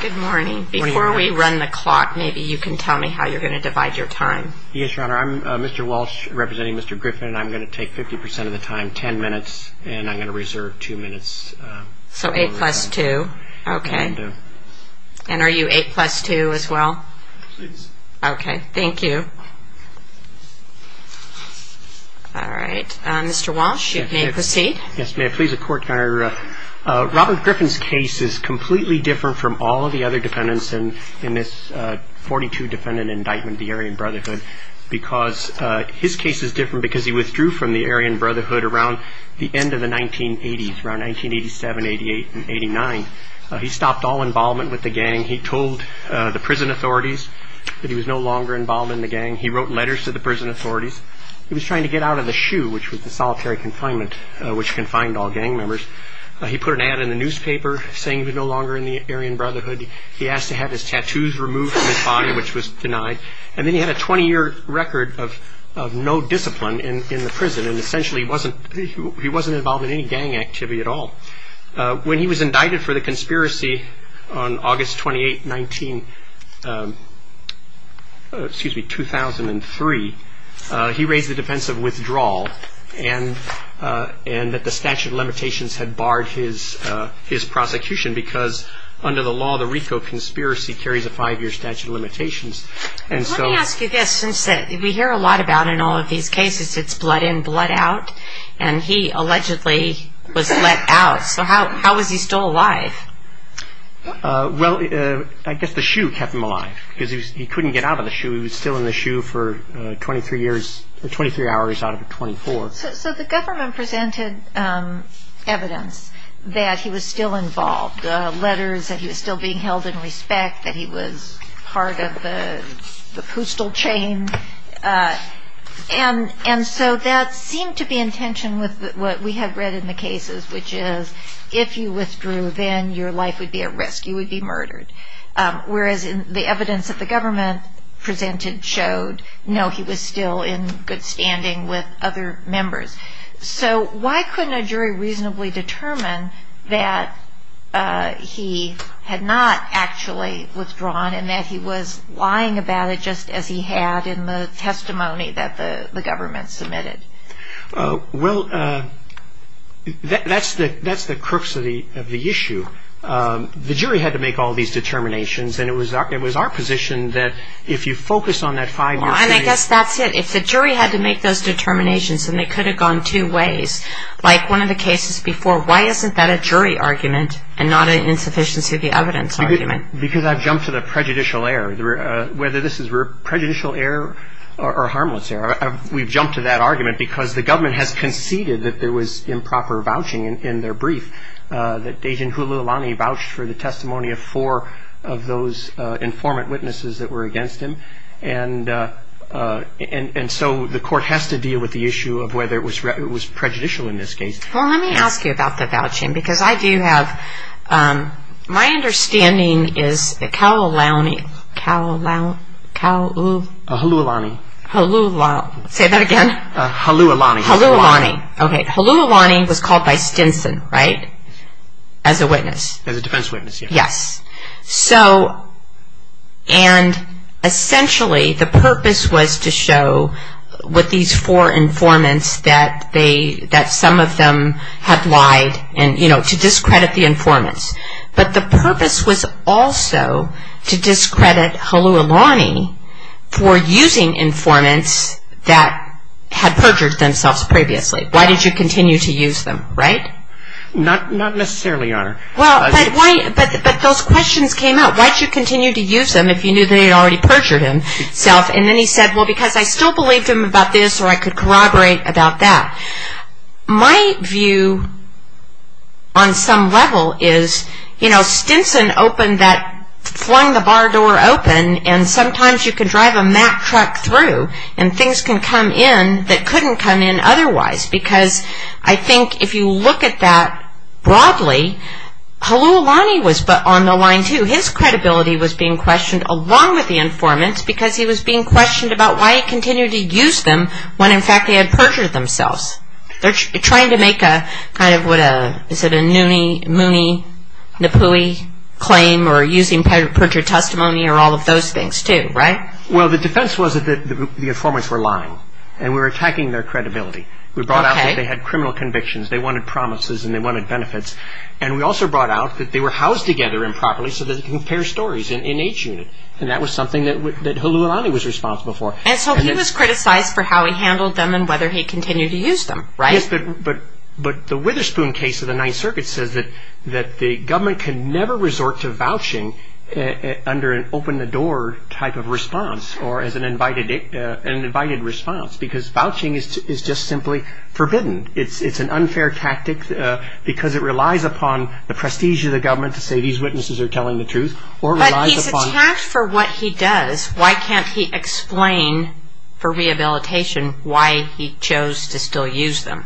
Good morning. Before we run the clock, maybe you can tell me how you're going to divide your time. Yes, Your Honor. I'm Mr. Walsh representing Mr. Griffin, and I'm going to take 50% of the time, 10 minutes, and I'm going to reserve 2 minutes. So 8 plus 2. Okay. And are you 8 plus 2 as well? Yes. Okay. Thank you. All right. Mr. Walsh, you may proceed. Yes, may I please, Your Honor. Robert Griffin's case is completely different from all of the other defendants in this 42 defendant indictment, the Aryan Brotherhood, because his case is different because he withdrew from the Aryan Brotherhood around the end of the 1980s, around 1987, 88, and 89. He stopped all involvement with the gang. He told the prison authorities that he was no longer involved in the gang. He wrote letters to the prison authorities. He was trying to get out of the SHU, which was the solitary confinement, which confined all gang members. He put an ad in the newspaper saying he was no longer in the Aryan Brotherhood. He asked to have his tattoos removed from his body, which was denied. And then he had a 20-year record of no discipline in the prison, and essentially he wasn't involved in any gang activity at all. When he was indicted for the conspiracy on August 28, 2003, he raised the defense of withdrawal and that the statute of limitations had barred his prosecution because under the law, the RICO conspiracy carries a five-year statute of limitations. Let me ask you this. We hear a lot about in all of these cases it's blood in, blood out. And he allegedly was let out. So how was he still alive? Well, I guess the SHU kept him alive because he couldn't get out of the SHU. He was still in the SHU for 23 hours out of 24. So the government presented evidence that he was still involved, letters that he was still being held in respect, that he was part of the postal chain. And so that seemed to be in tension with what we have read in the cases, which is if you withdrew, then your life would be at risk. You would be murdered. Whereas the evidence that the government presented showed, no, he was still in good standing with other members. So why couldn't a jury reasonably determine that he had not actually withdrawn and that he was lying about it just as he had in the testimony that the government submitted? Well, that's the crux of the issue. The jury had to make all these determinations and it was our position that if you focus on that five-year period I guess that's it. If the jury had to make those determinations and they could have gone two ways, like one of the cases before, why isn't that a jury argument and not an insufficiency of the evidence argument? Because I've jumped to the prejudicial error. Whether this is prejudicial error or harmless error, we've jumped to that argument because the government has conceded that there was improper vouching in their brief, that Agent Hululani vouched for the testimony of four of those informant witnesses that were against him. And so the court has to deal with the issue of whether it was prejudicial in this case. Well, let me ask you about the vouching because I do have, my understanding is that Hululani was called by Stinson, right? As a witness. As a defense witness, yes. Yes. So, and essentially the purpose was to show with these four informants that they, that some of them had lied and, you know, to discredit the informants. But the purpose was also to discredit Hululani for using informants that had perjured themselves previously. Why did you continue to use them, right? Not necessarily, Your Honor. Well, but why, but those questions came up. Why did you continue to use them if you knew they had already perjured himself? And then he said, well, because I still believed him about this or I could corroborate about that. My view on some level is, you know, Stinson opened that, flung the bar door open and sometimes you can drive a Mack truck through and things can come in that couldn't come in otherwise because I think if you look at that broadly, Hululani was on the line too. His credibility was being questioned along with the informants because he was being questioned about why he continued to use them when in fact they had perjured themselves. They're trying to make a kind of what a, is it a Mooney-Napooey claim or using perjured testimony or all of those things too, right? Well, the defense was that the informants were lying and we were attacking their credibility. We brought out that they had criminal convictions, they wanted promises and they wanted benefits and we also brought out that they were housed together improperly so that they could compare stories in each unit and that was something that Hululani was responsible for. And so he was criticized for how he handled them and whether he continued to use them, right? Yes, but the Witherspoon case of the Ninth Circuit says that the government can never resort to vouching under an open-the-door type of response or as an invited response because vouching is just simply forbidden. It's an unfair tactic because it relies upon the prestige of the government to say these witnesses are telling the truth or relies upon But he's attacked for what he does. Why can't he explain for rehabilitation why he chose to still use them?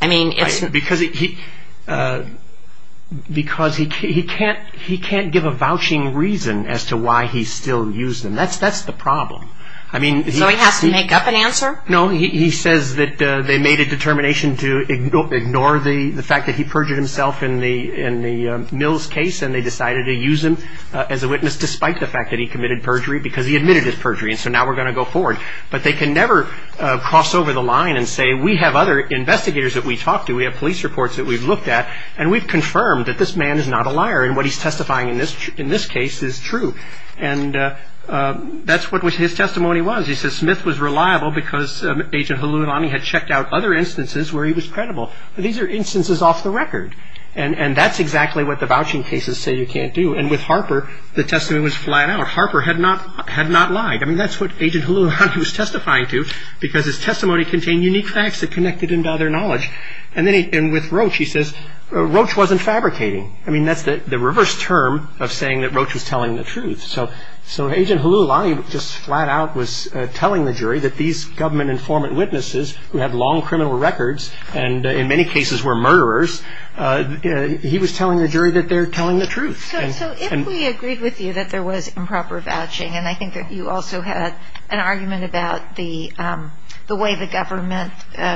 Because he can't give a vouching reason as to why he still used them. That's the problem. So he has to make up an answer? No, he says that they made a determination to ignore the fact that he perjured himself in the Mills case and they decided to use him as a witness despite the fact that he committed perjury because he admitted his perjury and so now we're going to go forward. But they can never cross over the line and say we have other investigators that we talked to, we have police reports that we've looked at, and we've confirmed that this man is not a liar and what he's testifying in this case is true. And that's what his testimony was. He said Smith was reliable because Agent Hululani had checked out other instances where he was credible. These are instances off the record. And that's exactly what the vouching cases say you can't do. And with Harper, the testimony was flat out. Harper had not lied. I mean that's what Agent Hululani was testifying to because his testimony contained unique facts that connected him to other knowledge. And with Roach he says Roach wasn't fabricating. I mean that's the reverse term of saying that Roach was telling the truth. So Agent Hululani just flat out was telling the jury that these government informant witnesses who had long criminal records and in many cases were murderers, he was telling the jury that they're telling the truth. So if we agreed with you that there was improper vouching, and I think that you also had an argument about the way the government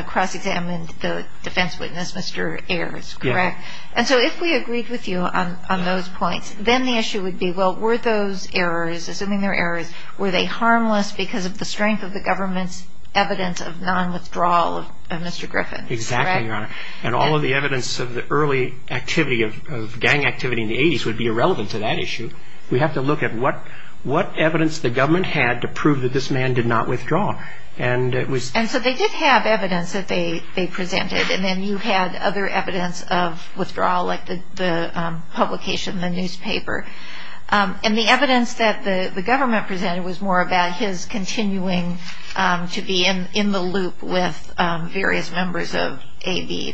cross-examined the defense witness, Mr. Ayers, correct? And so if we agreed with you on those points, then the issue would be, well, were those errors, assuming they're errors, were they harmless because of the strength of the government's evidence of non-withdrawal of Mr. Griffin? Exactly, Your Honor. And all of the evidence of the early activity of gang activity in the 80s would be irrelevant to that issue. We have to look at what evidence the government had to prove that this man did not withdraw. And so they did have evidence that they presented, and then you had other evidence of withdrawal like the publication in the newspaper. And the evidence that the government presented was more about his continuing to be in the loop with various members of the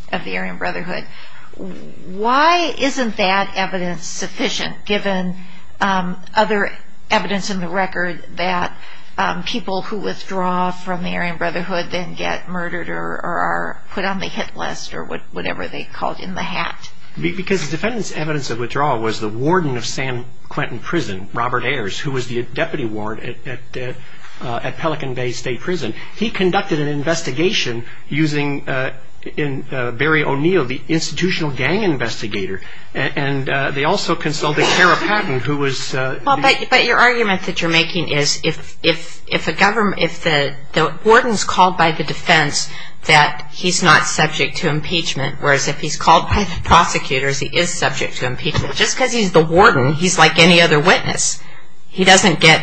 Aryan Brotherhood. Why isn't that evidence sufficient, given other evidence in the record, that people who withdraw from the Aryan Brotherhood then get murdered or are put on the hit list or whatever they called in the hat? Because the defendant's evidence of withdrawal was the warden of San Quentin Prison, Robert Ayers, who was the deputy ward at Pelican Bay State Prison. He conducted an investigation using Barry O'Neill, the institutional gang investigator. And they also consulted Kara Patton, who was the- But your argument that you're making is if the warden's called by the defense that he's not subject to impeachment, whereas if he's called by the prosecutors, he is subject to impeachment, just because he's the warden, he's like any other witness. He doesn't get,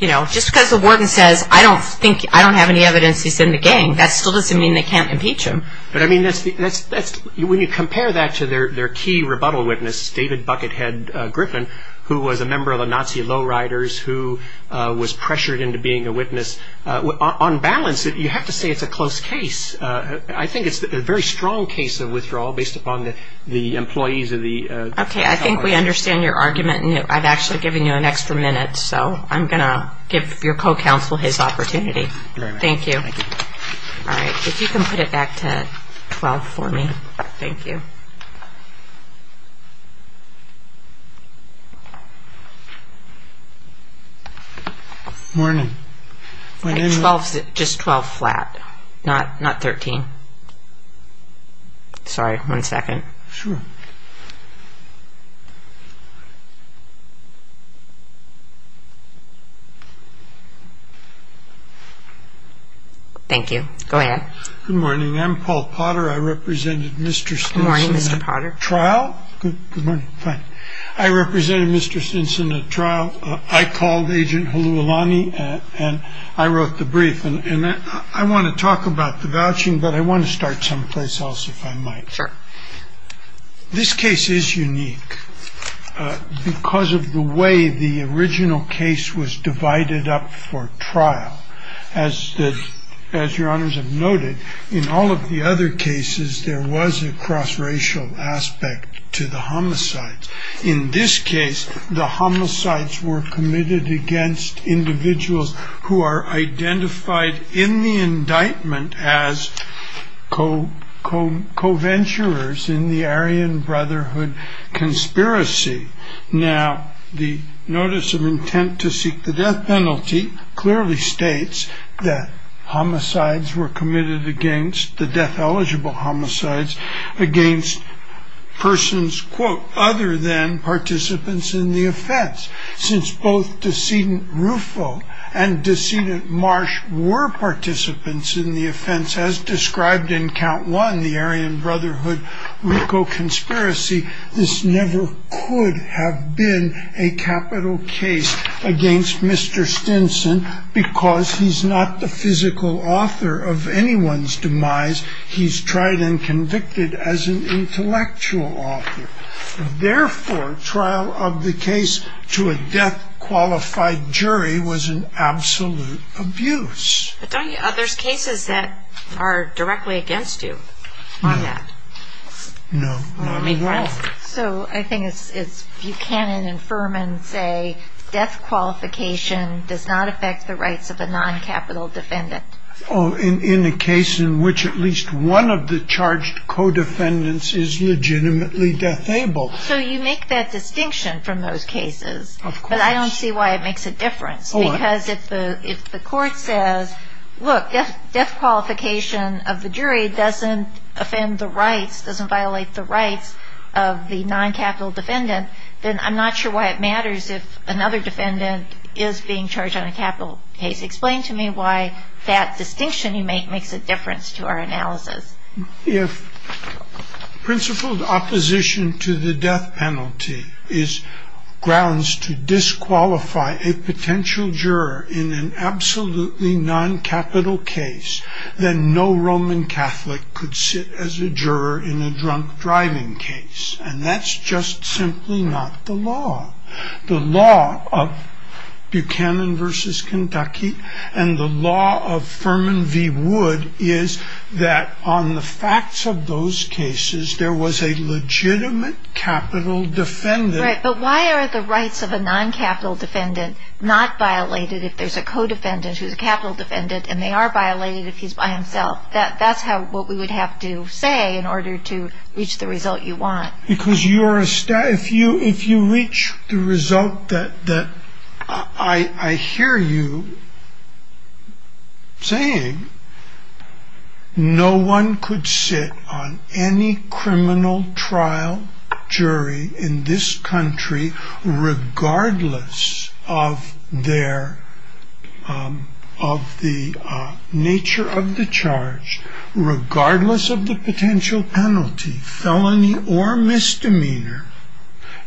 you know, just because the warden says, I don't think, I don't have any evidence he's in the gang, that still doesn't mean they can't impeach him. But I mean, when you compare that to their key rebuttal witness, David Buckethead Griffin, who was a member of the Nazi lowriders, who was pressured into being a witness, on balance, you have to say it's a close case. I think it's a very strong case of withdrawal based upon the employees of the- Okay, I think we understand your argument. I've actually given you an extra minute, so I'm going to give your co-counsel his opportunity. Thank you. All right, if you can put it back to 12 for me. Thank you. Morning. Just 12 flat, not 13. Sorry, one second. Sure. All right. Thank you. Go ahead. Good morning. I'm Paul Potter. I represented Mr. Stinson at trial. Good morning, Mr. Potter. Good morning. Fine. I represented Mr. Stinson at trial. I called Agent Helulani, and I wrote the brief. And I want to talk about the vouching, but I want to start someplace else, if I might. Sure. This case is unique because of the way the original case was divided up for trial. As your honors have noted, in all of the other cases, there was a cross-racial aspect to the homicides. In this case, the homicides were committed against individuals who are identified in the indictment as co-venturers in the Aryan Brotherhood conspiracy. Now, the notice of intent to seek the death penalty clearly states that homicides were committed against the death-eligible homicides against persons, quote, other than participants in the offense. Since both decedent Rufo and decedent Marsh were participants in the offense, as described in count one, the Aryan Brotherhood RICO conspiracy, this never could have been a capital case against Mr. Stinson because he's not the physical author of anyone's demise. He's tried and convicted as an intellectual author. Therefore, trial of the case to a death-qualified jury was an absolute abuse. There's cases that are directly against you on that. No. So I think it's Buchanan and Furman say death qualification does not affect the rights of a non-capital defendant. In the case in which at least one of the charged co-defendants is legitimately death-able. So you make that distinction from those cases. But I don't see why it makes a difference. Because if the court says, look, death qualification of the jury doesn't offend the rights, doesn't violate the rights of the non-capital defendant, then I'm not sure why it matters if another defendant is being charged on a capital case. Explain to me why that distinction you make makes a difference to our analysis. If principled opposition to the death penalty is grounds to disqualify a potential juror in an absolutely non-capital case, then no Roman Catholic could sit as a juror in a drunk driving case. And that's just simply not the law. The law of Buchanan versus Kentucky and the law of Furman v. Wood is that on the facts of those cases, there was a legitimate capital defendant. But why are the rights of a non-capital defendant not violated if there's a co-defendant who's a capital defendant and they are violated if he's by himself? That's what we would have to say in order to reach the result you want. Because if you reach the result that I hear you saying, no one could sit on any criminal trial jury in this country regardless of the nature of the charge, regardless of the potential penalty, felony, or misdemeanor,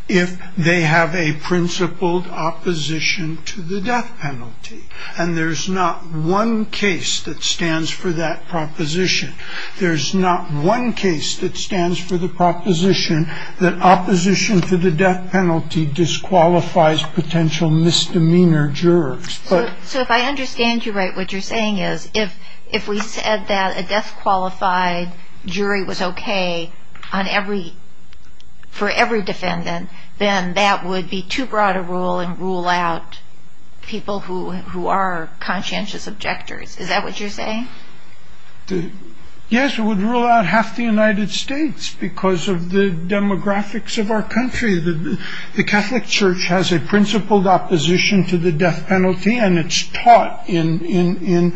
if they have a principled opposition to the death penalty. And there's not one case that stands for that proposition. There's not one case that stands for the proposition that opposition to the death penalty disqualifies potential misdemeanor jurors. So if I understand you right, what you're saying is if we said that a death-qualified jury was okay for every defendant, then that would be too broad a rule and rule out people who are conscientious objectors. Is that what you're saying? Yes, it would rule out half the United States because of the demographics of our country. The Catholic Church has a principled opposition to the death penalty, and it's taught in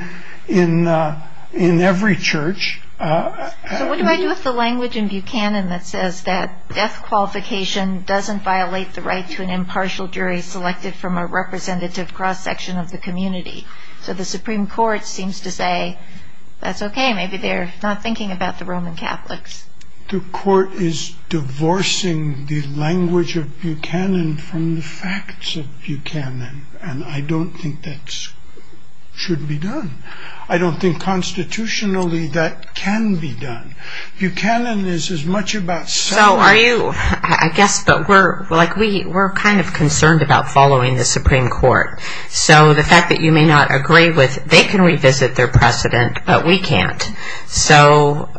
every church. So what do I do with the language in Buchanan that says that death qualification doesn't violate the right to an impartial jury selected from a representative cross-section of the community? So the Supreme Court seems to say, that's okay, maybe they're not thinking about the Roman Catholics. The court is divorcing the language of Buchanan from the facts of Buchanan, and I don't think that should be done. I don't think constitutionally that can be done. Buchanan is as much about... So are you, I guess, but we're kind of concerned about following the Supreme Court. So the fact that you may not agree with, they can revisit their precedent, but we can't. So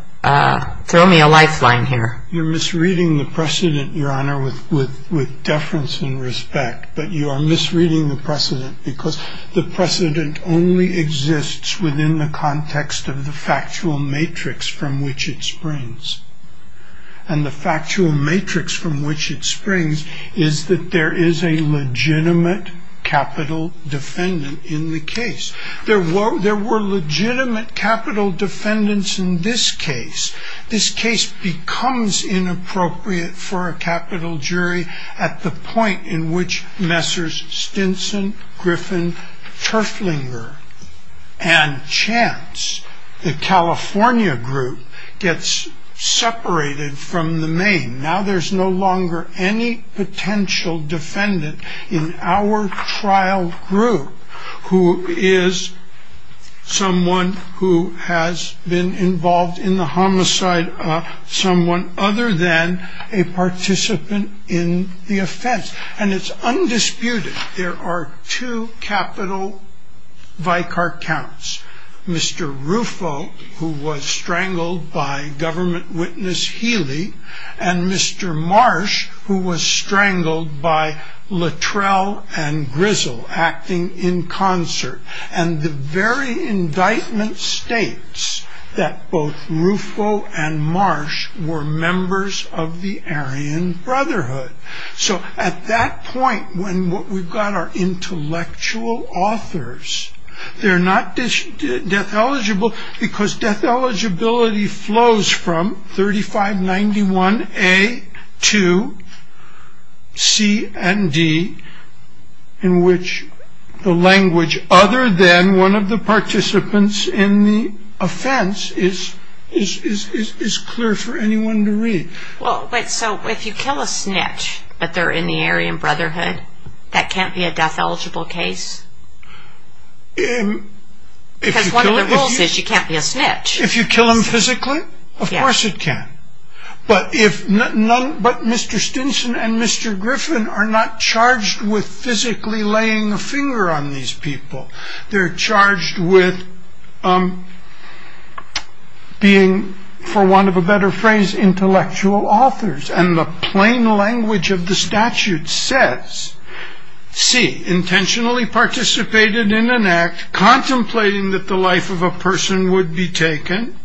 throw me a lifeline here. You're misreading the precedent, Your Honor, with deference and respect. But you are misreading the precedent because the precedent only exists within the context of the factual matrix from which it springs. And the factual matrix from which it springs is that there is a legitimate capital defendant in the case. There were legitimate capital defendants in this case. This case becomes inappropriate for a capital jury at the point in which Messrs. Stinson, Griffin, Terflinger, and Chance, the California group, gets separated from the main. Now there's no longer any potential defendant in our trial group who is someone who has been involved in the homicide of someone other than a participant in the offense. And it's undisputed. There are two capital Vicar Counts, Mr. Ruffo, who was strangled by government witness Healy, and Mr. Marsh, who was strangled by Latrell and Grizzle acting in concert. And the very indictment states that both Ruffo and Marsh were members of the Aryan Brotherhood. So at that point when what we've got are intellectual authors, they're not death eligible because death eligibility flows from 3591A to C and D, in which the language other than one of the participants in the offense is clear for anyone to read. So if you kill a snitch, but they're in the Aryan Brotherhood, that can't be a death eligible case? Because one of the rules is you can't be a snitch. If you kill them physically, of course it can. But Mr. Stinson and Mr. Griffin are not charged with physically laying a finger on these people. They're charged with being, for want of a better phrase, intellectual authors. And the plain language of the statute says, C, intentionally participated in an act, contemplating that the life of a person would be taken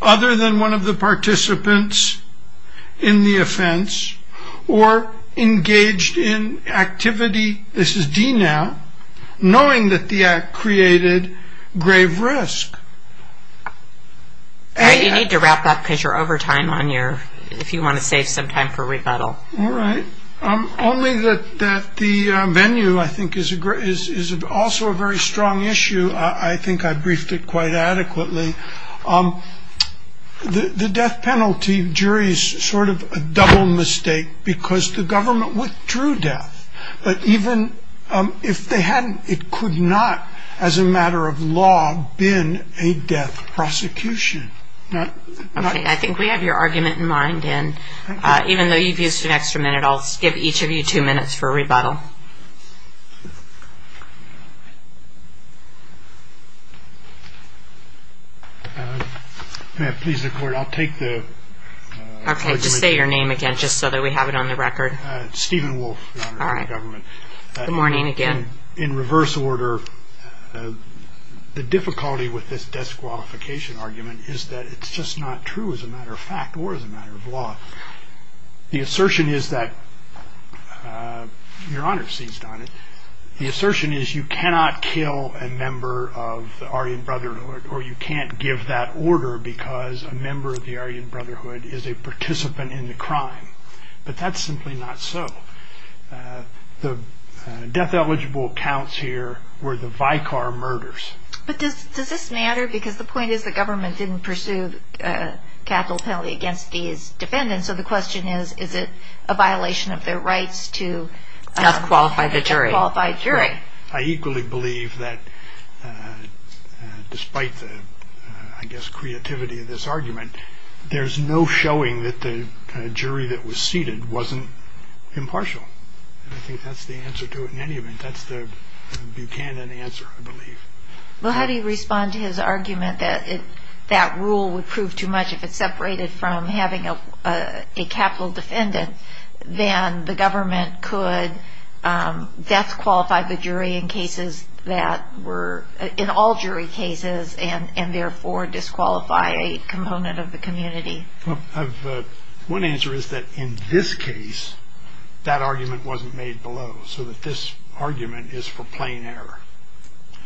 other than one of the participants in the offense, or engaged in activity, this is D now, knowing that the act created grave risk. You need to wrap up because you're over time if you want to save some time for rebuttal. All right. Only that the venue, I think, is also a very strong issue. I think I briefed it quite adequately. The death penalty jury is sort of a double mistake because the government withdrew death. But even if they hadn't, it could not, as a matter of law, been a death prosecution. Okay. I think we have your argument in mind. Even though you've used an extra minute, I'll give each of you two minutes for rebuttal. Okay. Just say your name again just so that we have it on the record. Stephen Wolfe, Your Honor. All right. Good morning again. In reverse order, the difficulty with this death qualification argument is that it's just not true, as a matter of fact or as a matter of law. The assertion is that, Your Honor seized on it, the assertion is you cannot kill a member of the Aryan Brotherhood, or you can't give that order because a member of the Aryan Brotherhood is a participant in the crime. But that's simply not so. The death-eligible counts here were the Vicar murders. But does this matter? Because the point is the government didn't pursue capital penalty against these defendants. So the question is, is it a violation of their rights to a qualified jury? I equally believe that, despite the, I guess, creativity of this argument, there's no showing that the jury that was seated wasn't impartial. And I think that's the answer to it in any event. That's the Buchanan answer, I believe. Well, how do you respond to his argument that that rule would prove too much, if it's separated from having a capital defendant, then the government could death-qualify the jury in cases that were, in all jury cases, and therefore disqualify a component of the community? One answer is that in this case, that argument wasn't made below, so that this argument is for plain error.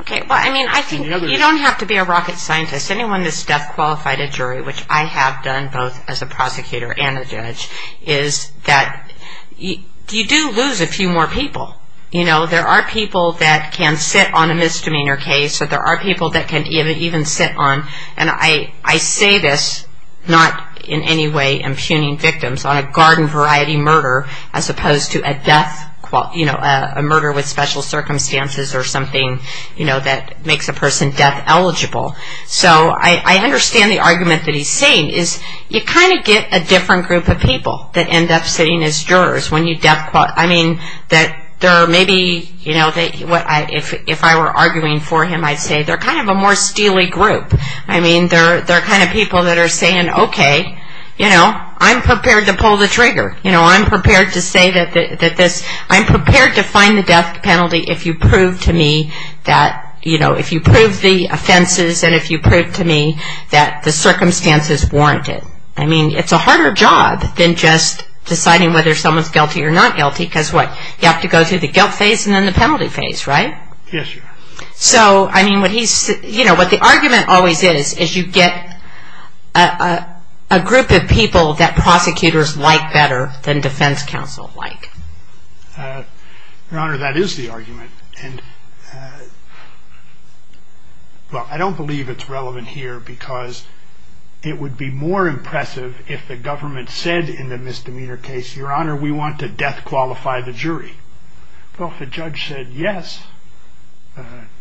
Okay. Well, I mean, I think you don't have to be a rocket scientist. Anyone that's death-qualified a jury, which I have done both as a prosecutor and a judge, is that you do lose a few more people. You know, there are people that can sit on a misdemeanor case, or there are people that can even sit on, and I say this not in any way impugning victims, on a garden-variety murder as opposed to a murder with special circumstances or something that makes a person death-eligible. So I understand the argument that he's saying is you kind of get a different group of people that end up sitting as jurors when you death-qualify. I mean, that there are maybe, you know, if I were arguing for him, I'd say they're kind of a more steely group. I mean, they're the kind of people that are saying, okay, you know, I'm prepared to pull the trigger. You know, I'm prepared to say that this, I'm prepared to find the death penalty if you prove to me that, you know, if you prove the offenses and if you prove to me that the circumstances warrant it. I mean, it's a harder job than just deciding whether someone's guilty or not guilty, because what? You have to go through the guilt phase and then the penalty phase, right? Yes, Your Honor. So, I mean, what he's, you know, what the argument always is, is you get a group of people that prosecutors like better than defense counsel like. Your Honor, that is the argument, and, well, I don't believe it's relevant here because it would be more impressive if the government said in the misdemeanor case, Your Honor, we want to death qualify the jury. Well, if the judge said yes,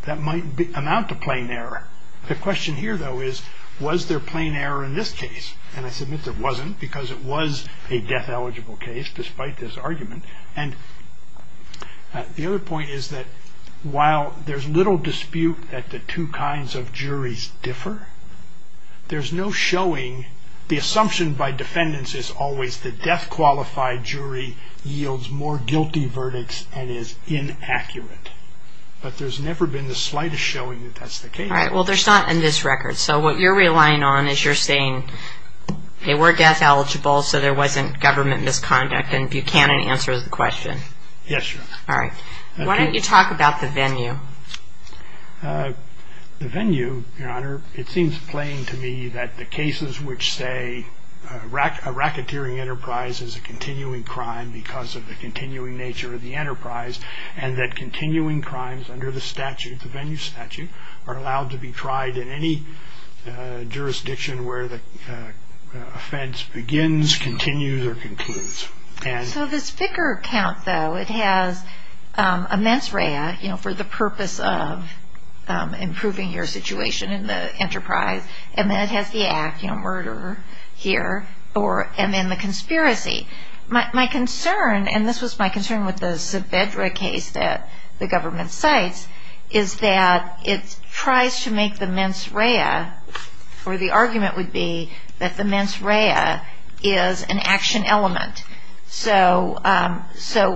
that might amount to plain error. The question here, though, is was there plain error in this case? And I submit there wasn't because it was a death-eligible case despite this argument. And the other point is that while there's little dispute that the two kinds of juries differ, there's no showing. The assumption by defendants is always the death-qualified jury yields more guilty verdicts and is inaccurate. But there's never been the slightest showing that that's the case. All right. Well, there's not in this record. So what you're relying on is you're saying they were death-eligible, so there wasn't government misconduct, and Buchanan answers the question. Yes, Your Honor. All right. Why don't you talk about the venue? The venue, Your Honor, it seems plain to me that the cases which say a racketeering enterprise is a continuing crime because of the continuing nature of the enterprise and that continuing crimes under the statute, the venue statute, are allowed to be tried in any jurisdiction where the offense begins, continues, or concludes. So the spicker count, though, it has a mens rea, you know, for the purpose of improving your situation in the enterprise, and then it has the act, you know, murder here, and then the conspiracy. My concern, and this was my concern with the Saavedra case that the government cites, is that it tries to make the mens rea, or the argument would be that the mens rea is an action element. So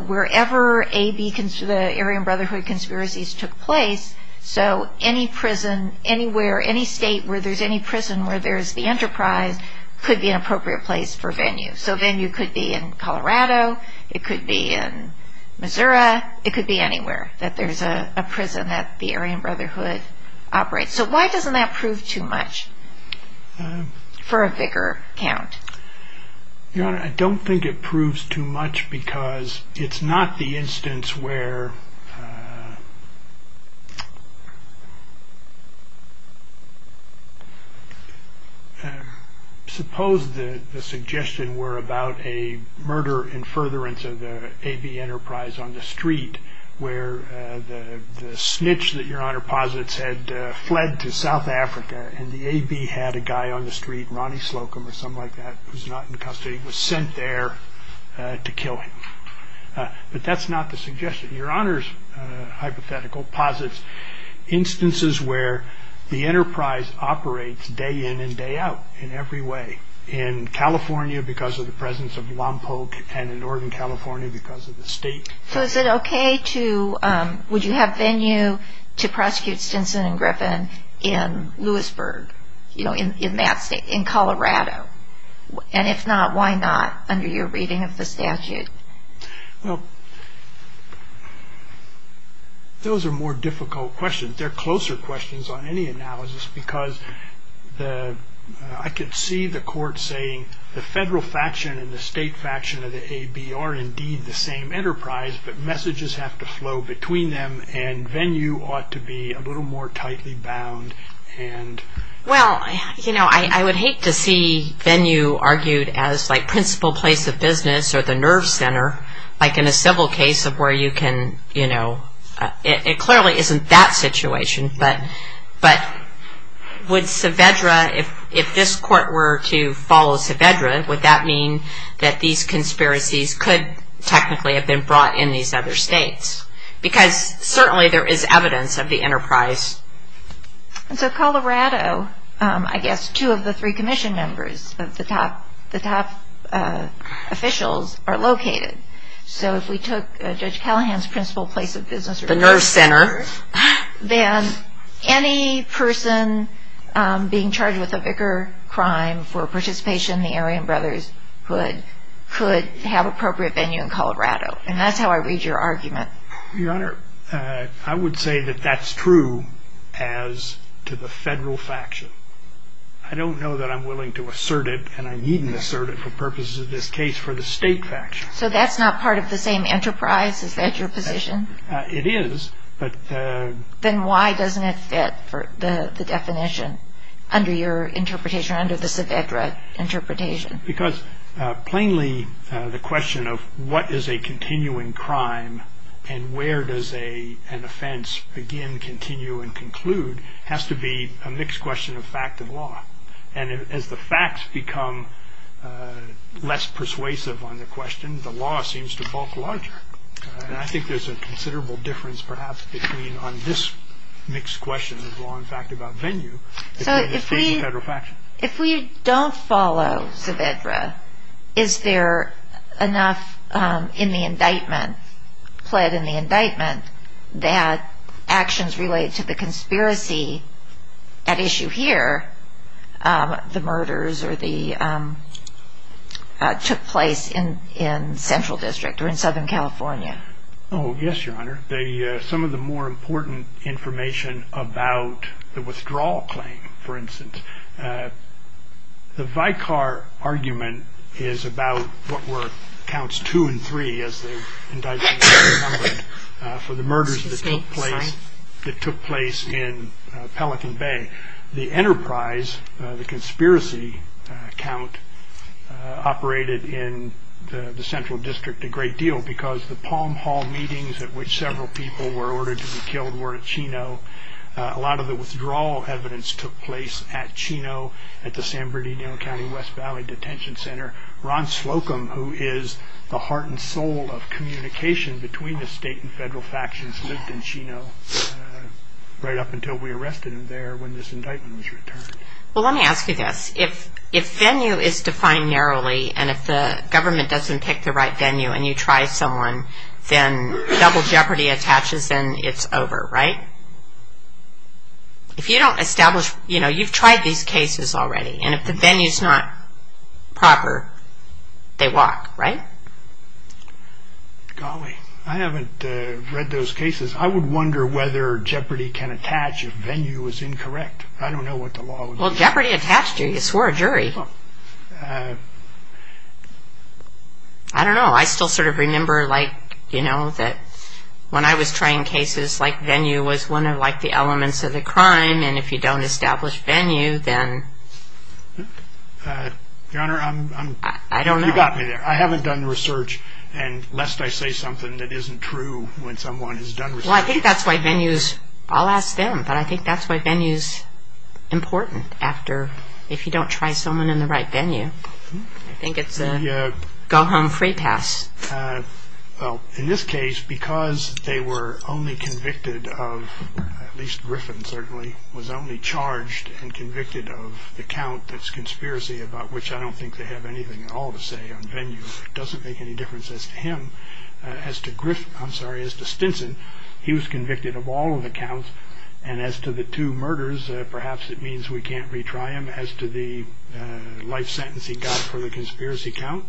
wherever the Aryan Brotherhood conspiracies took place, so any prison anywhere, any state where there's any prison where there's the enterprise, could be an appropriate place for venue. So venue could be in Colorado. It could be in Missouri. It could be anywhere that there's a prison that the Aryan Brotherhood operates. So why doesn't that prove too much for a spicker count? Your Honor, I don't think it proves too much because it's not the instance where Suppose the suggestion were about a murder in furtherance of the A.B. enterprise on the street where the snitch that Your Honor posits had fled to South Africa, and the A.B. had a guy on the street, Ronnie Slocum or someone like that, who's not in custody, was sent there to kill him. But that's not the suggestion. Your Honor's hypothetical posits instances where the enterprise operates day in and day out in every way, in California because of the presence of Lompoc and in Northern California because of the state. So is it okay to, would you have venue to prosecute Stinson and Griffin in Lewisburg, in Colorado? And if not, why not, under your reading of the statute? Well, those are more difficult questions. They're closer questions on any analysis because I could see the court saying the federal faction and the state faction of the A.B. are indeed the same enterprise, but messages have to flow between them and venue ought to be a little more tightly bound. Well, you know, I would hate to see venue argued as like principal place of business or the nerve center, like in a civil case of where you can, you know, it clearly isn't that situation, but would Saavedra, if this court were to follow Saavedra, would that mean that these conspiracies could technically have been brought in these other states? Because certainly there is evidence of the enterprise. And so Colorado, I guess two of the three commission members of the top officials are located. So if we took Judge Callahan's principal place of business or nerve center, then any person being charged with a vicar crime for participation in the Aryan Brotherhood could have appropriate venue in Colorado. And that's how I read your argument. Your Honor, I would say that that's true as to the federal faction. I don't know that I'm willing to assert it and I needn't assert it for purposes of this case for the state faction. So that's not part of the same enterprise? Is that your position? It is, but... Then why doesn't it fit the definition under your interpretation, under the Saavedra interpretation? Because, plainly, the question of what is a continuing crime and where does an offense begin, continue, and conclude has to be a mixed question of fact and law. And as the facts become less persuasive on the question, the law seems to bulk larger. And I think there's a considerable difference, perhaps, between on this mixed question of law and fact about venue and the state and federal factions. If we don't follow Saavedra, is there enough in the indictment, pled in the indictment, that actions related to the conspiracy at issue here, the murders or the... took place in Central District or in Southern California? Oh, yes, Your Honor. Some of the more important information about the withdrawal claim, for instance, the Vicar argument is about what were counts two and three, as the indictment has encumbered, for the murders that took place in Pelican Bay. The enterprise, the conspiracy count, operated in the Central District a great deal because the Palm Hall meetings at which several people were ordered to be killed were at Chino. A lot of the withdrawal evidence took place at Chino, at the San Bernardino County West Valley Detention Center. Ron Slocum, who is the heart and soul of communication between the state and federal factions, lived in Chino right up until we arrested him there when this indictment was returned. Well, let me ask you this. If venue is defined narrowly and if the government doesn't pick the right venue and you try someone, then double jeopardy attaches and it's over, right? If you don't establish, you know, you've tried these cases already, and if the venue is not proper, they walk, right? Golly, I haven't read those cases. I would wonder whether jeopardy can attach if venue is incorrect. I don't know what the law would do. Well, jeopardy attached you. You swore a jury. I don't know. I still sort of remember, like, you know, that when I was trying cases, like venue was one of, like, the elements of the crime, and if you don't establish venue, then... Your Honor, I'm... I don't know. You got me there. I haven't done research, and lest I say something that isn't true when someone has done research... Well, I think that's why venue is... I'll ask them, but I think that's why venue is important after... I think it's a go-home-free pass. Well, in this case, because they were only convicted of, at least Griffin certainly, was only charged and convicted of the count that's conspiracy, about which I don't think they have anything at all to say on venue. It doesn't make any difference as to him, as to Griffin... I'm sorry, as to Stinson. He was convicted of all of the counts, and as to the two murders, perhaps it means we can't retry him. As to the life sentence he got for the conspiracy count,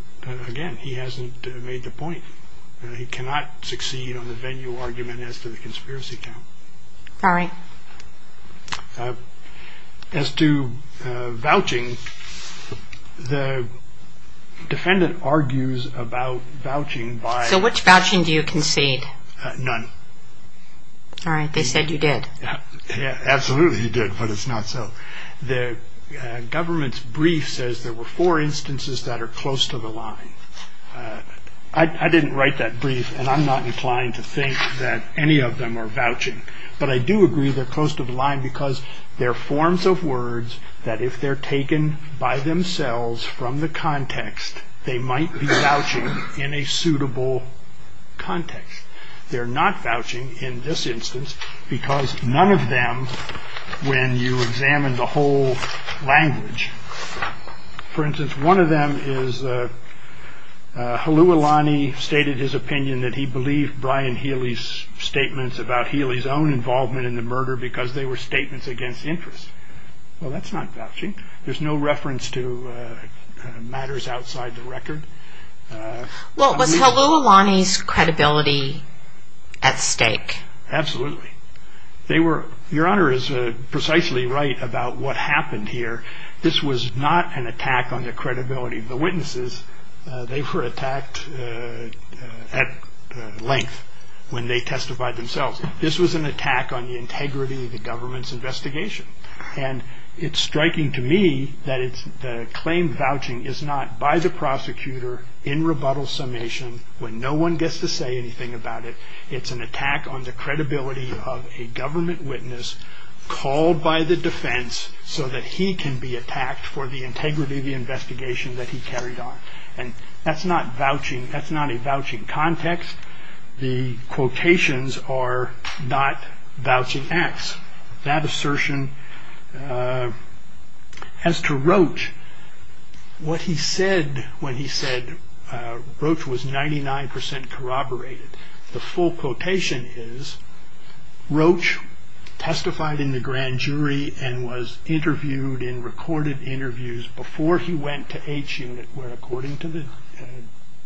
again, he hasn't made the point. He cannot succeed on the venue argument as to the conspiracy count. All right. As to vouching, the defendant argues about vouching by... So which vouching do you concede? None. All right, they said you did. Yeah, absolutely he did, but it's not so. The government's brief says there were four instances that are close to the line. I didn't write that brief, and I'm not inclined to think that any of them are vouching, but I do agree they're close to the line because they're forms of words that if they're taken by themselves from the context, they might be vouching in a suitable context. They're not vouching in this instance because none of them, when you examine the whole language, for instance, one of them is Halualani stated his opinion that he believed Brian Healy's statements about Healy's own involvement in the murder because they were statements against interest. Well, that's not vouching. There's no reference to matters outside the record. Well, was Halualani's credibility at stake? Absolutely. Your Honor is precisely right about what happened here. This was not an attack on the credibility of the witnesses. They were attacked at length when they testified themselves. This was an attack on the integrity of the government's investigation, and it's striking to me that the claim vouching is not by the prosecutor in rebuttal summation when no one gets to say anything about it. It's an attack on the credibility of a government witness called by the defense so that he can be attacked for the integrity of the investigation that he carried on, and that's not a vouching context. The quotations are not vouching acts. That assertion as to Roach, what he said when he said Roach was 99% corroborated, the full quotation is Roach testified in the grand jury and was interviewed in recorded interviews before he went to H Unit where according to the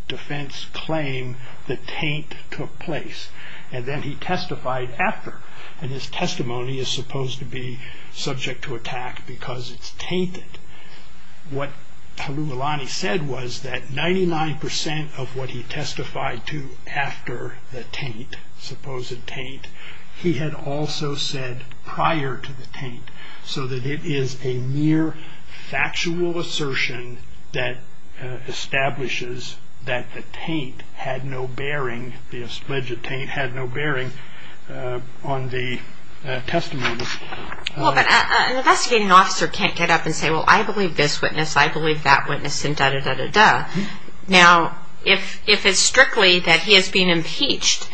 defense claim the taint took place, and then he testified after, and his testimony is supposed to be subject to attack because it's tainted. What Hulhulani said was that 99% of what he testified to after the taint, supposed taint, he had also said prior to the taint so that it is a mere factual assertion that establishes that the taint had no bearing, the alleged taint had no bearing on the testimony. Well, but an investigating officer can't get up and say, well, I believe this witness, I believe that witness, and da-da-da-da-da. Now, if it's strictly that he has been impeached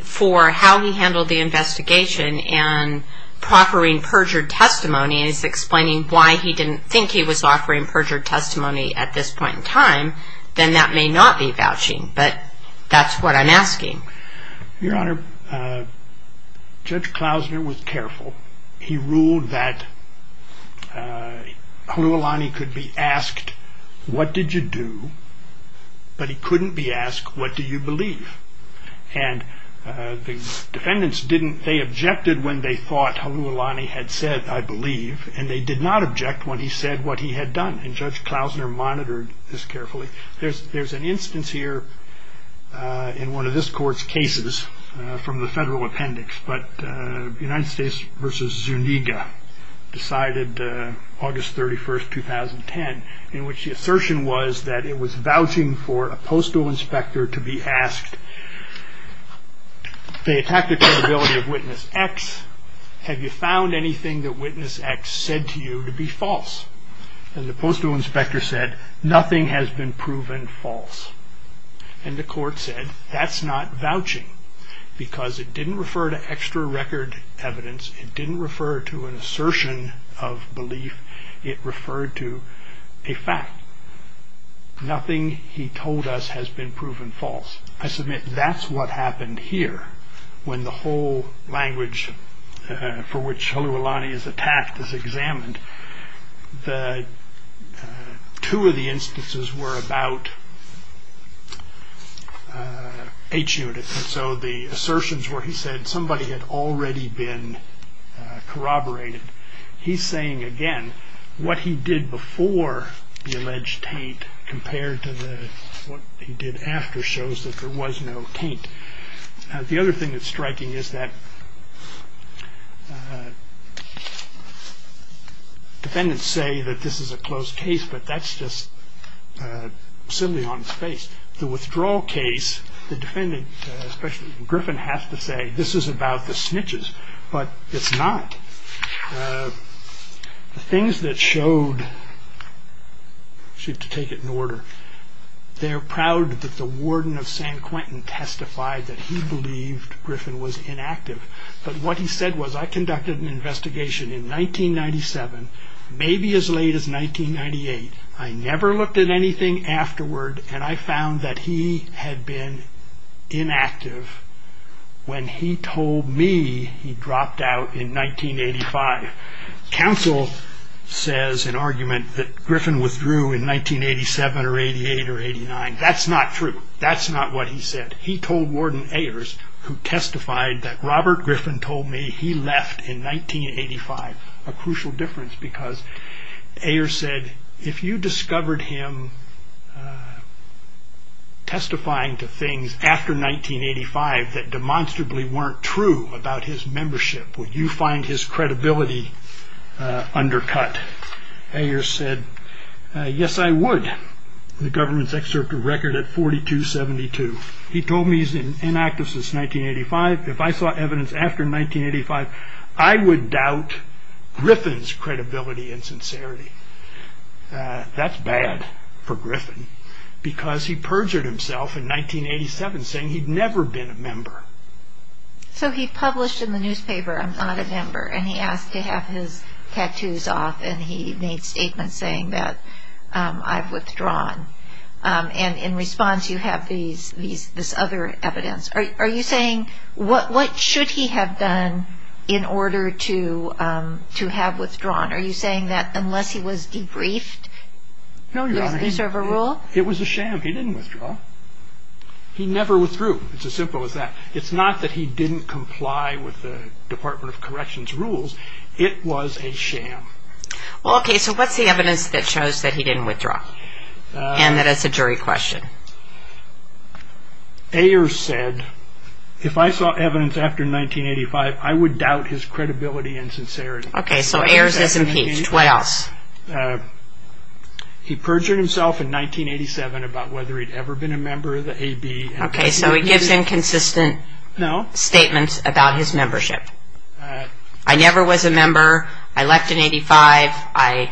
for how he handled the investigation and proffering perjured testimony and is explaining why he didn't think he was offering perjured testimony at this point in time, then that may not be vouching, but that's what I'm asking. Your Honor, Judge Klausner was careful. He ruled that Hulhulani could be asked, what did you do? But he couldn't be asked, what do you believe? And the defendants, they objected when they thought Hulhulani had said, I believe, and they did not object when he said what he had done, and Judge Klausner monitored this carefully. There's an instance here in one of this court's cases from the federal appendix, but United States v. Zuniga decided August 31, 2010, in which the assertion was that it was vouching for a postal inspector to be asked, they attacked the credibility of witness X, have you found anything that witness X said to you to be false? And the postal inspector said, nothing has been proven false. And the court said, that's not vouching, because it didn't refer to extra record evidence, it didn't refer to an assertion of belief, it referred to a fact. Nothing he told us has been proven false. I submit that's what happened here, The two of the instances were about H units, so the assertions where he said somebody had already been corroborated, he's saying again, what he did before the alleged taint compared to what he did after shows that there was no taint. The other thing that's striking is that defendants say that this is a closed case, but that's just silly on its face. The withdrawal case, the defendant, especially Griffin, has to say this is about the snitches, but it's not. I should take it in order, they're proud that the warden of San Quentin testified that he believed Griffin was inactive, but what he said was, I conducted an investigation in 1997, maybe as late as 1998, I never looked at anything afterward, and I found that he had been inactive when he told me he dropped out in 1985. Counsel says an argument that Griffin withdrew in 1987 or 88 or 89, that's not true, that's not what he said. He told Warden Ayers, who testified that, Robert Griffin told me he left in 1985, a crucial difference because Ayers said, if you discovered him testifying to things after 1985 that demonstrably weren't true about his membership, would you find his credibility undercut? Ayers said, yes I would. The government's excerpt of record at 4272, he told me he's inactive since 1985, if I saw evidence after 1985, I would doubt Griffin's credibility and sincerity. That's bad for Griffin, because he perjured himself in 1987, saying he'd never been a member. So he published in the newspaper, I'm not a member, and he asked to have his tattoos off, and he made statements saying that, I've withdrawn, and in response you have this other evidence. Are you saying, what should he have done in order to have withdrawn? Are you saying that unless he was debriefed? No, Your Honor. It was a sham, he didn't withdraw. He never withdrew, it's as simple as that. It's not that he didn't comply with the Department of Corrections rules, it was a sham. Okay, so what's the evidence that shows that he didn't withdraw, and that it's a jury question? Ayers said, if I saw evidence after 1985, I would doubt his credibility and sincerity. Okay, so Ayers is impeached, what else? He perjured himself in 1987 about whether he'd ever been a member of the AB. Okay, so he gives inconsistent statements about his membership. I never was a member, I left in 1985, I...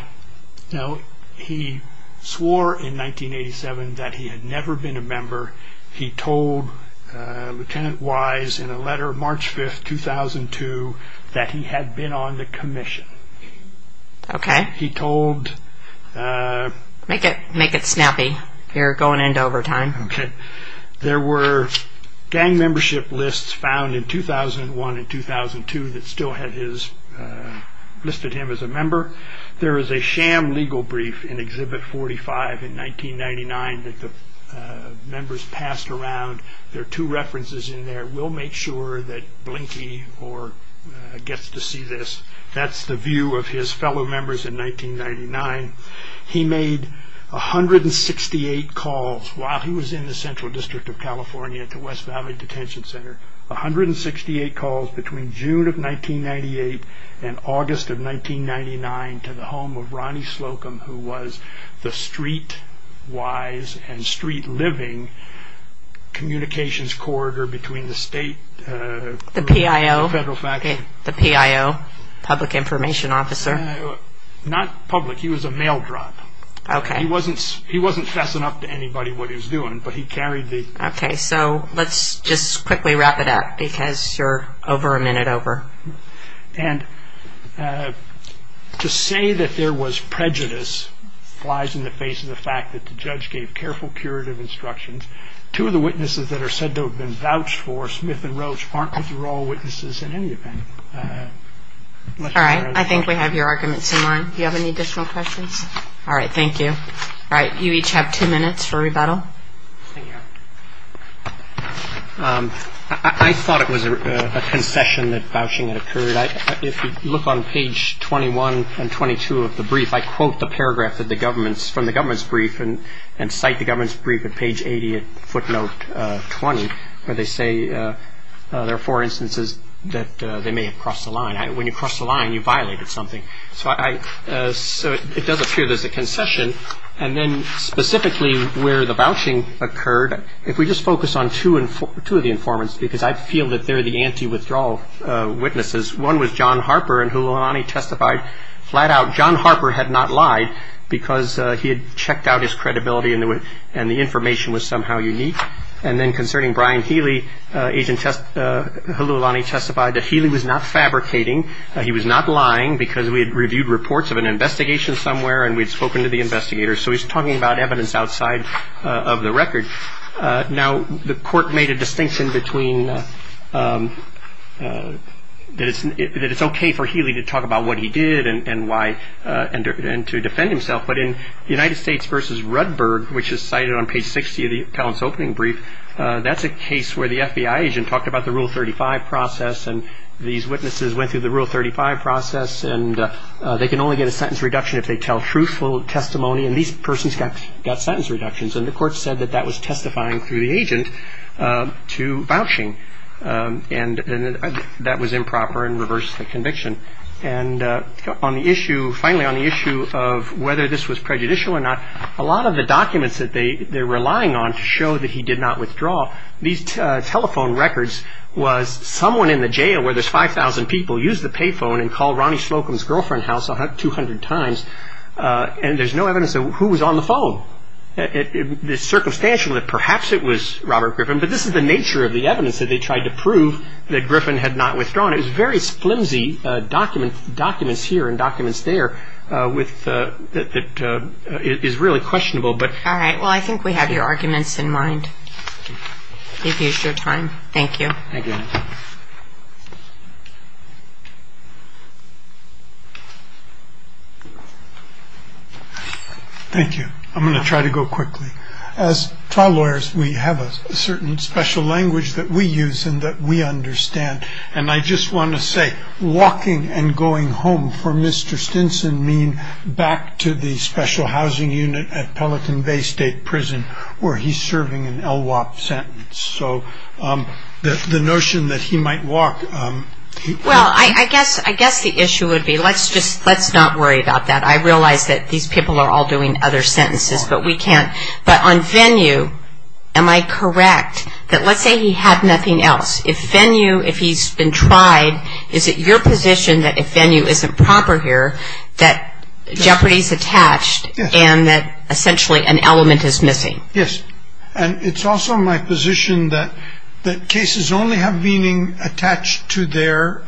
No, he swore in 1987 that he had never been a member. He told Lieutenant Wise in a letter March 5th, 2002, that he had been on the commission. Okay. He told... Make it snappy, you're going into overtime. Okay. There were gang membership lists found in 2001 and 2002 that still listed him as a member. There is a sham legal brief in Exhibit 45 in 1999 that the members passed around. There are two references in there. We'll make sure that Blinky gets to see this. That's the view of his fellow members in 1999. He made 168 calls while he was in the Central District of California to West Valley Detention Center. 168 calls between June of 1998 and August of 1999 to the home of Ronnie Slocum, who was the street-wise and street-living communications corridor between the state... The PIO. Federal faculty. The PIO, public information officer. Not public, he was a mail drop. Okay. He wasn't fessing up to anybody what he was doing, but he carried the... Okay, so let's just quickly wrap it up because you're over a minute over. And to say that there was prejudice lies in the face of the fact that the judge gave careful curative instructions. Two of the witnesses that are said to have been vouched for, Smith and Roche, aren't withdraw witnesses in any event. All right, I think we have your arguments in line. Do you have any additional questions? All right, thank you. All right, you each have two minutes for rebuttal. I thought it was a concession that vouching had occurred. If you look on page 21 and 22 of the brief, I quote the paragraph from the government's brief and cite the government's brief at page 80, footnote 20, where they say there are four instances that they may have crossed the line. When you crossed the line, you violated something. So it does appear there's a concession. And then specifically where the vouching occurred, if we just focus on two of the informants because I feel that they're the anti-withdrawal witnesses. One was John Harper and Hululani testified flat out. John Harper had not lied because he had checked out his credibility and the information was somehow unique. And then concerning Brian Healy, Hululani testified that Healy was not fabricating. He was not lying because we had reviewed reports of an investigation somewhere and we had spoken to the investigators. So he's talking about evidence outside of the record. Now, the court made a distinction between that it's okay for Healy to talk about what he did and to defend himself. But in United States v. Rudberg, which is cited on page 60 of the appellant's opening brief, that's a case where the FBI agent talked about the Rule 35 process and these witnesses went through the Rule 35 process and they can only get a sentence reduction if they tell truthful testimony and these persons got sentence reductions. And the court said that that was testifying through the agent to vouching. And that was improper and reversed the conviction. And on the issue, finally on the issue of whether this was prejudicial or not, a lot of the documents that they're relying on to show that he did not withdraw, these telephone records was someone in the jail where there's 5,000 people used the pay phone and called Ronnie Slocum's girlfriend's house 200 times and there's no evidence of who was on the phone. It's circumstantial that perhaps it was Robert Griffin, but this is the nature of the evidence that they tried to prove that Griffin had not withdrawn. It was very flimsy documents here and documents there that is really questionable. All right, well I think we have your arguments in mind. Thank you for your time. Thank you. Thank you. I'm going to try to go quickly. As trial lawyers, we have a certain special language that we use and that we understand. And I just want to say walking and going home for Mr. Stinson mean back to the special housing unit at Pelican Bay State Prison where he's serving an LWOP sentence. So the notion that he might walk... Well, I guess the issue would be let's not worry about that. I realize that these people are all doing other sentences, but we can't. But on Venue, am I correct that let's say he had nothing else? If Venue, if he's been tried, is it your position that if Venue isn't proper here that jeopardy is attached and that essentially an element is missing? Yes. And it's also my position that cases only have meaning attached to their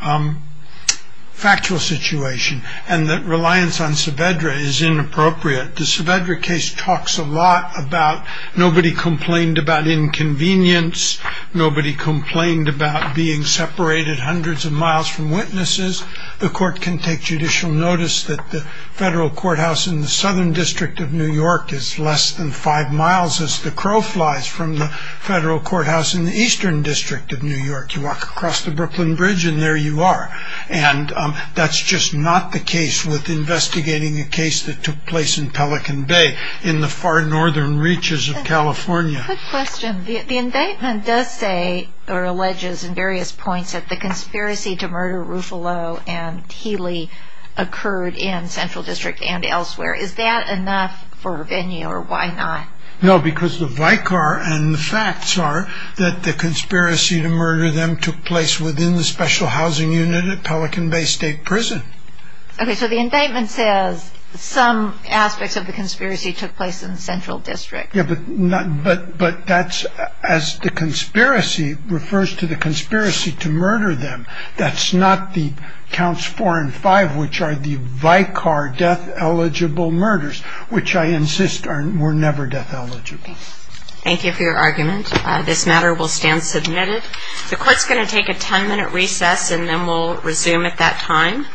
factual situation and that reliance on Saavedra is inappropriate. The Saavedra case talks a lot about nobody complained about inconvenience, nobody complained about being separated hundreds of miles from witnesses. The court can take judicial notice that the federal courthouse in the southern district of New York is less than five miles as the crow flies from the federal courthouse in the eastern district of New York. You walk across the Brooklyn Bridge and there you are. And that's just not the case with investigating a case that took place in Pelican Bay in the far northern reaches of California. Good question. The indictment does say or alleges in various points that the conspiracy to murder Ruffalo and Healy occurred in Central District and elsewhere. Is that enough for Venue or why not? No, because the vicar and the facts are that the conspiracy to murder them took place within the special housing unit at Pelican Bay State Prison. Okay, so the indictment says some aspects of the conspiracy took place in Central District. But that's as the conspiracy refers to the conspiracy to murder them. That's not the counts four and five which are the vicar death eligible murders which I insist were never death eligible. Thank you for your argument. This matter will stand submitted. The court's going to take a ten minute recess and then we'll resume at that time.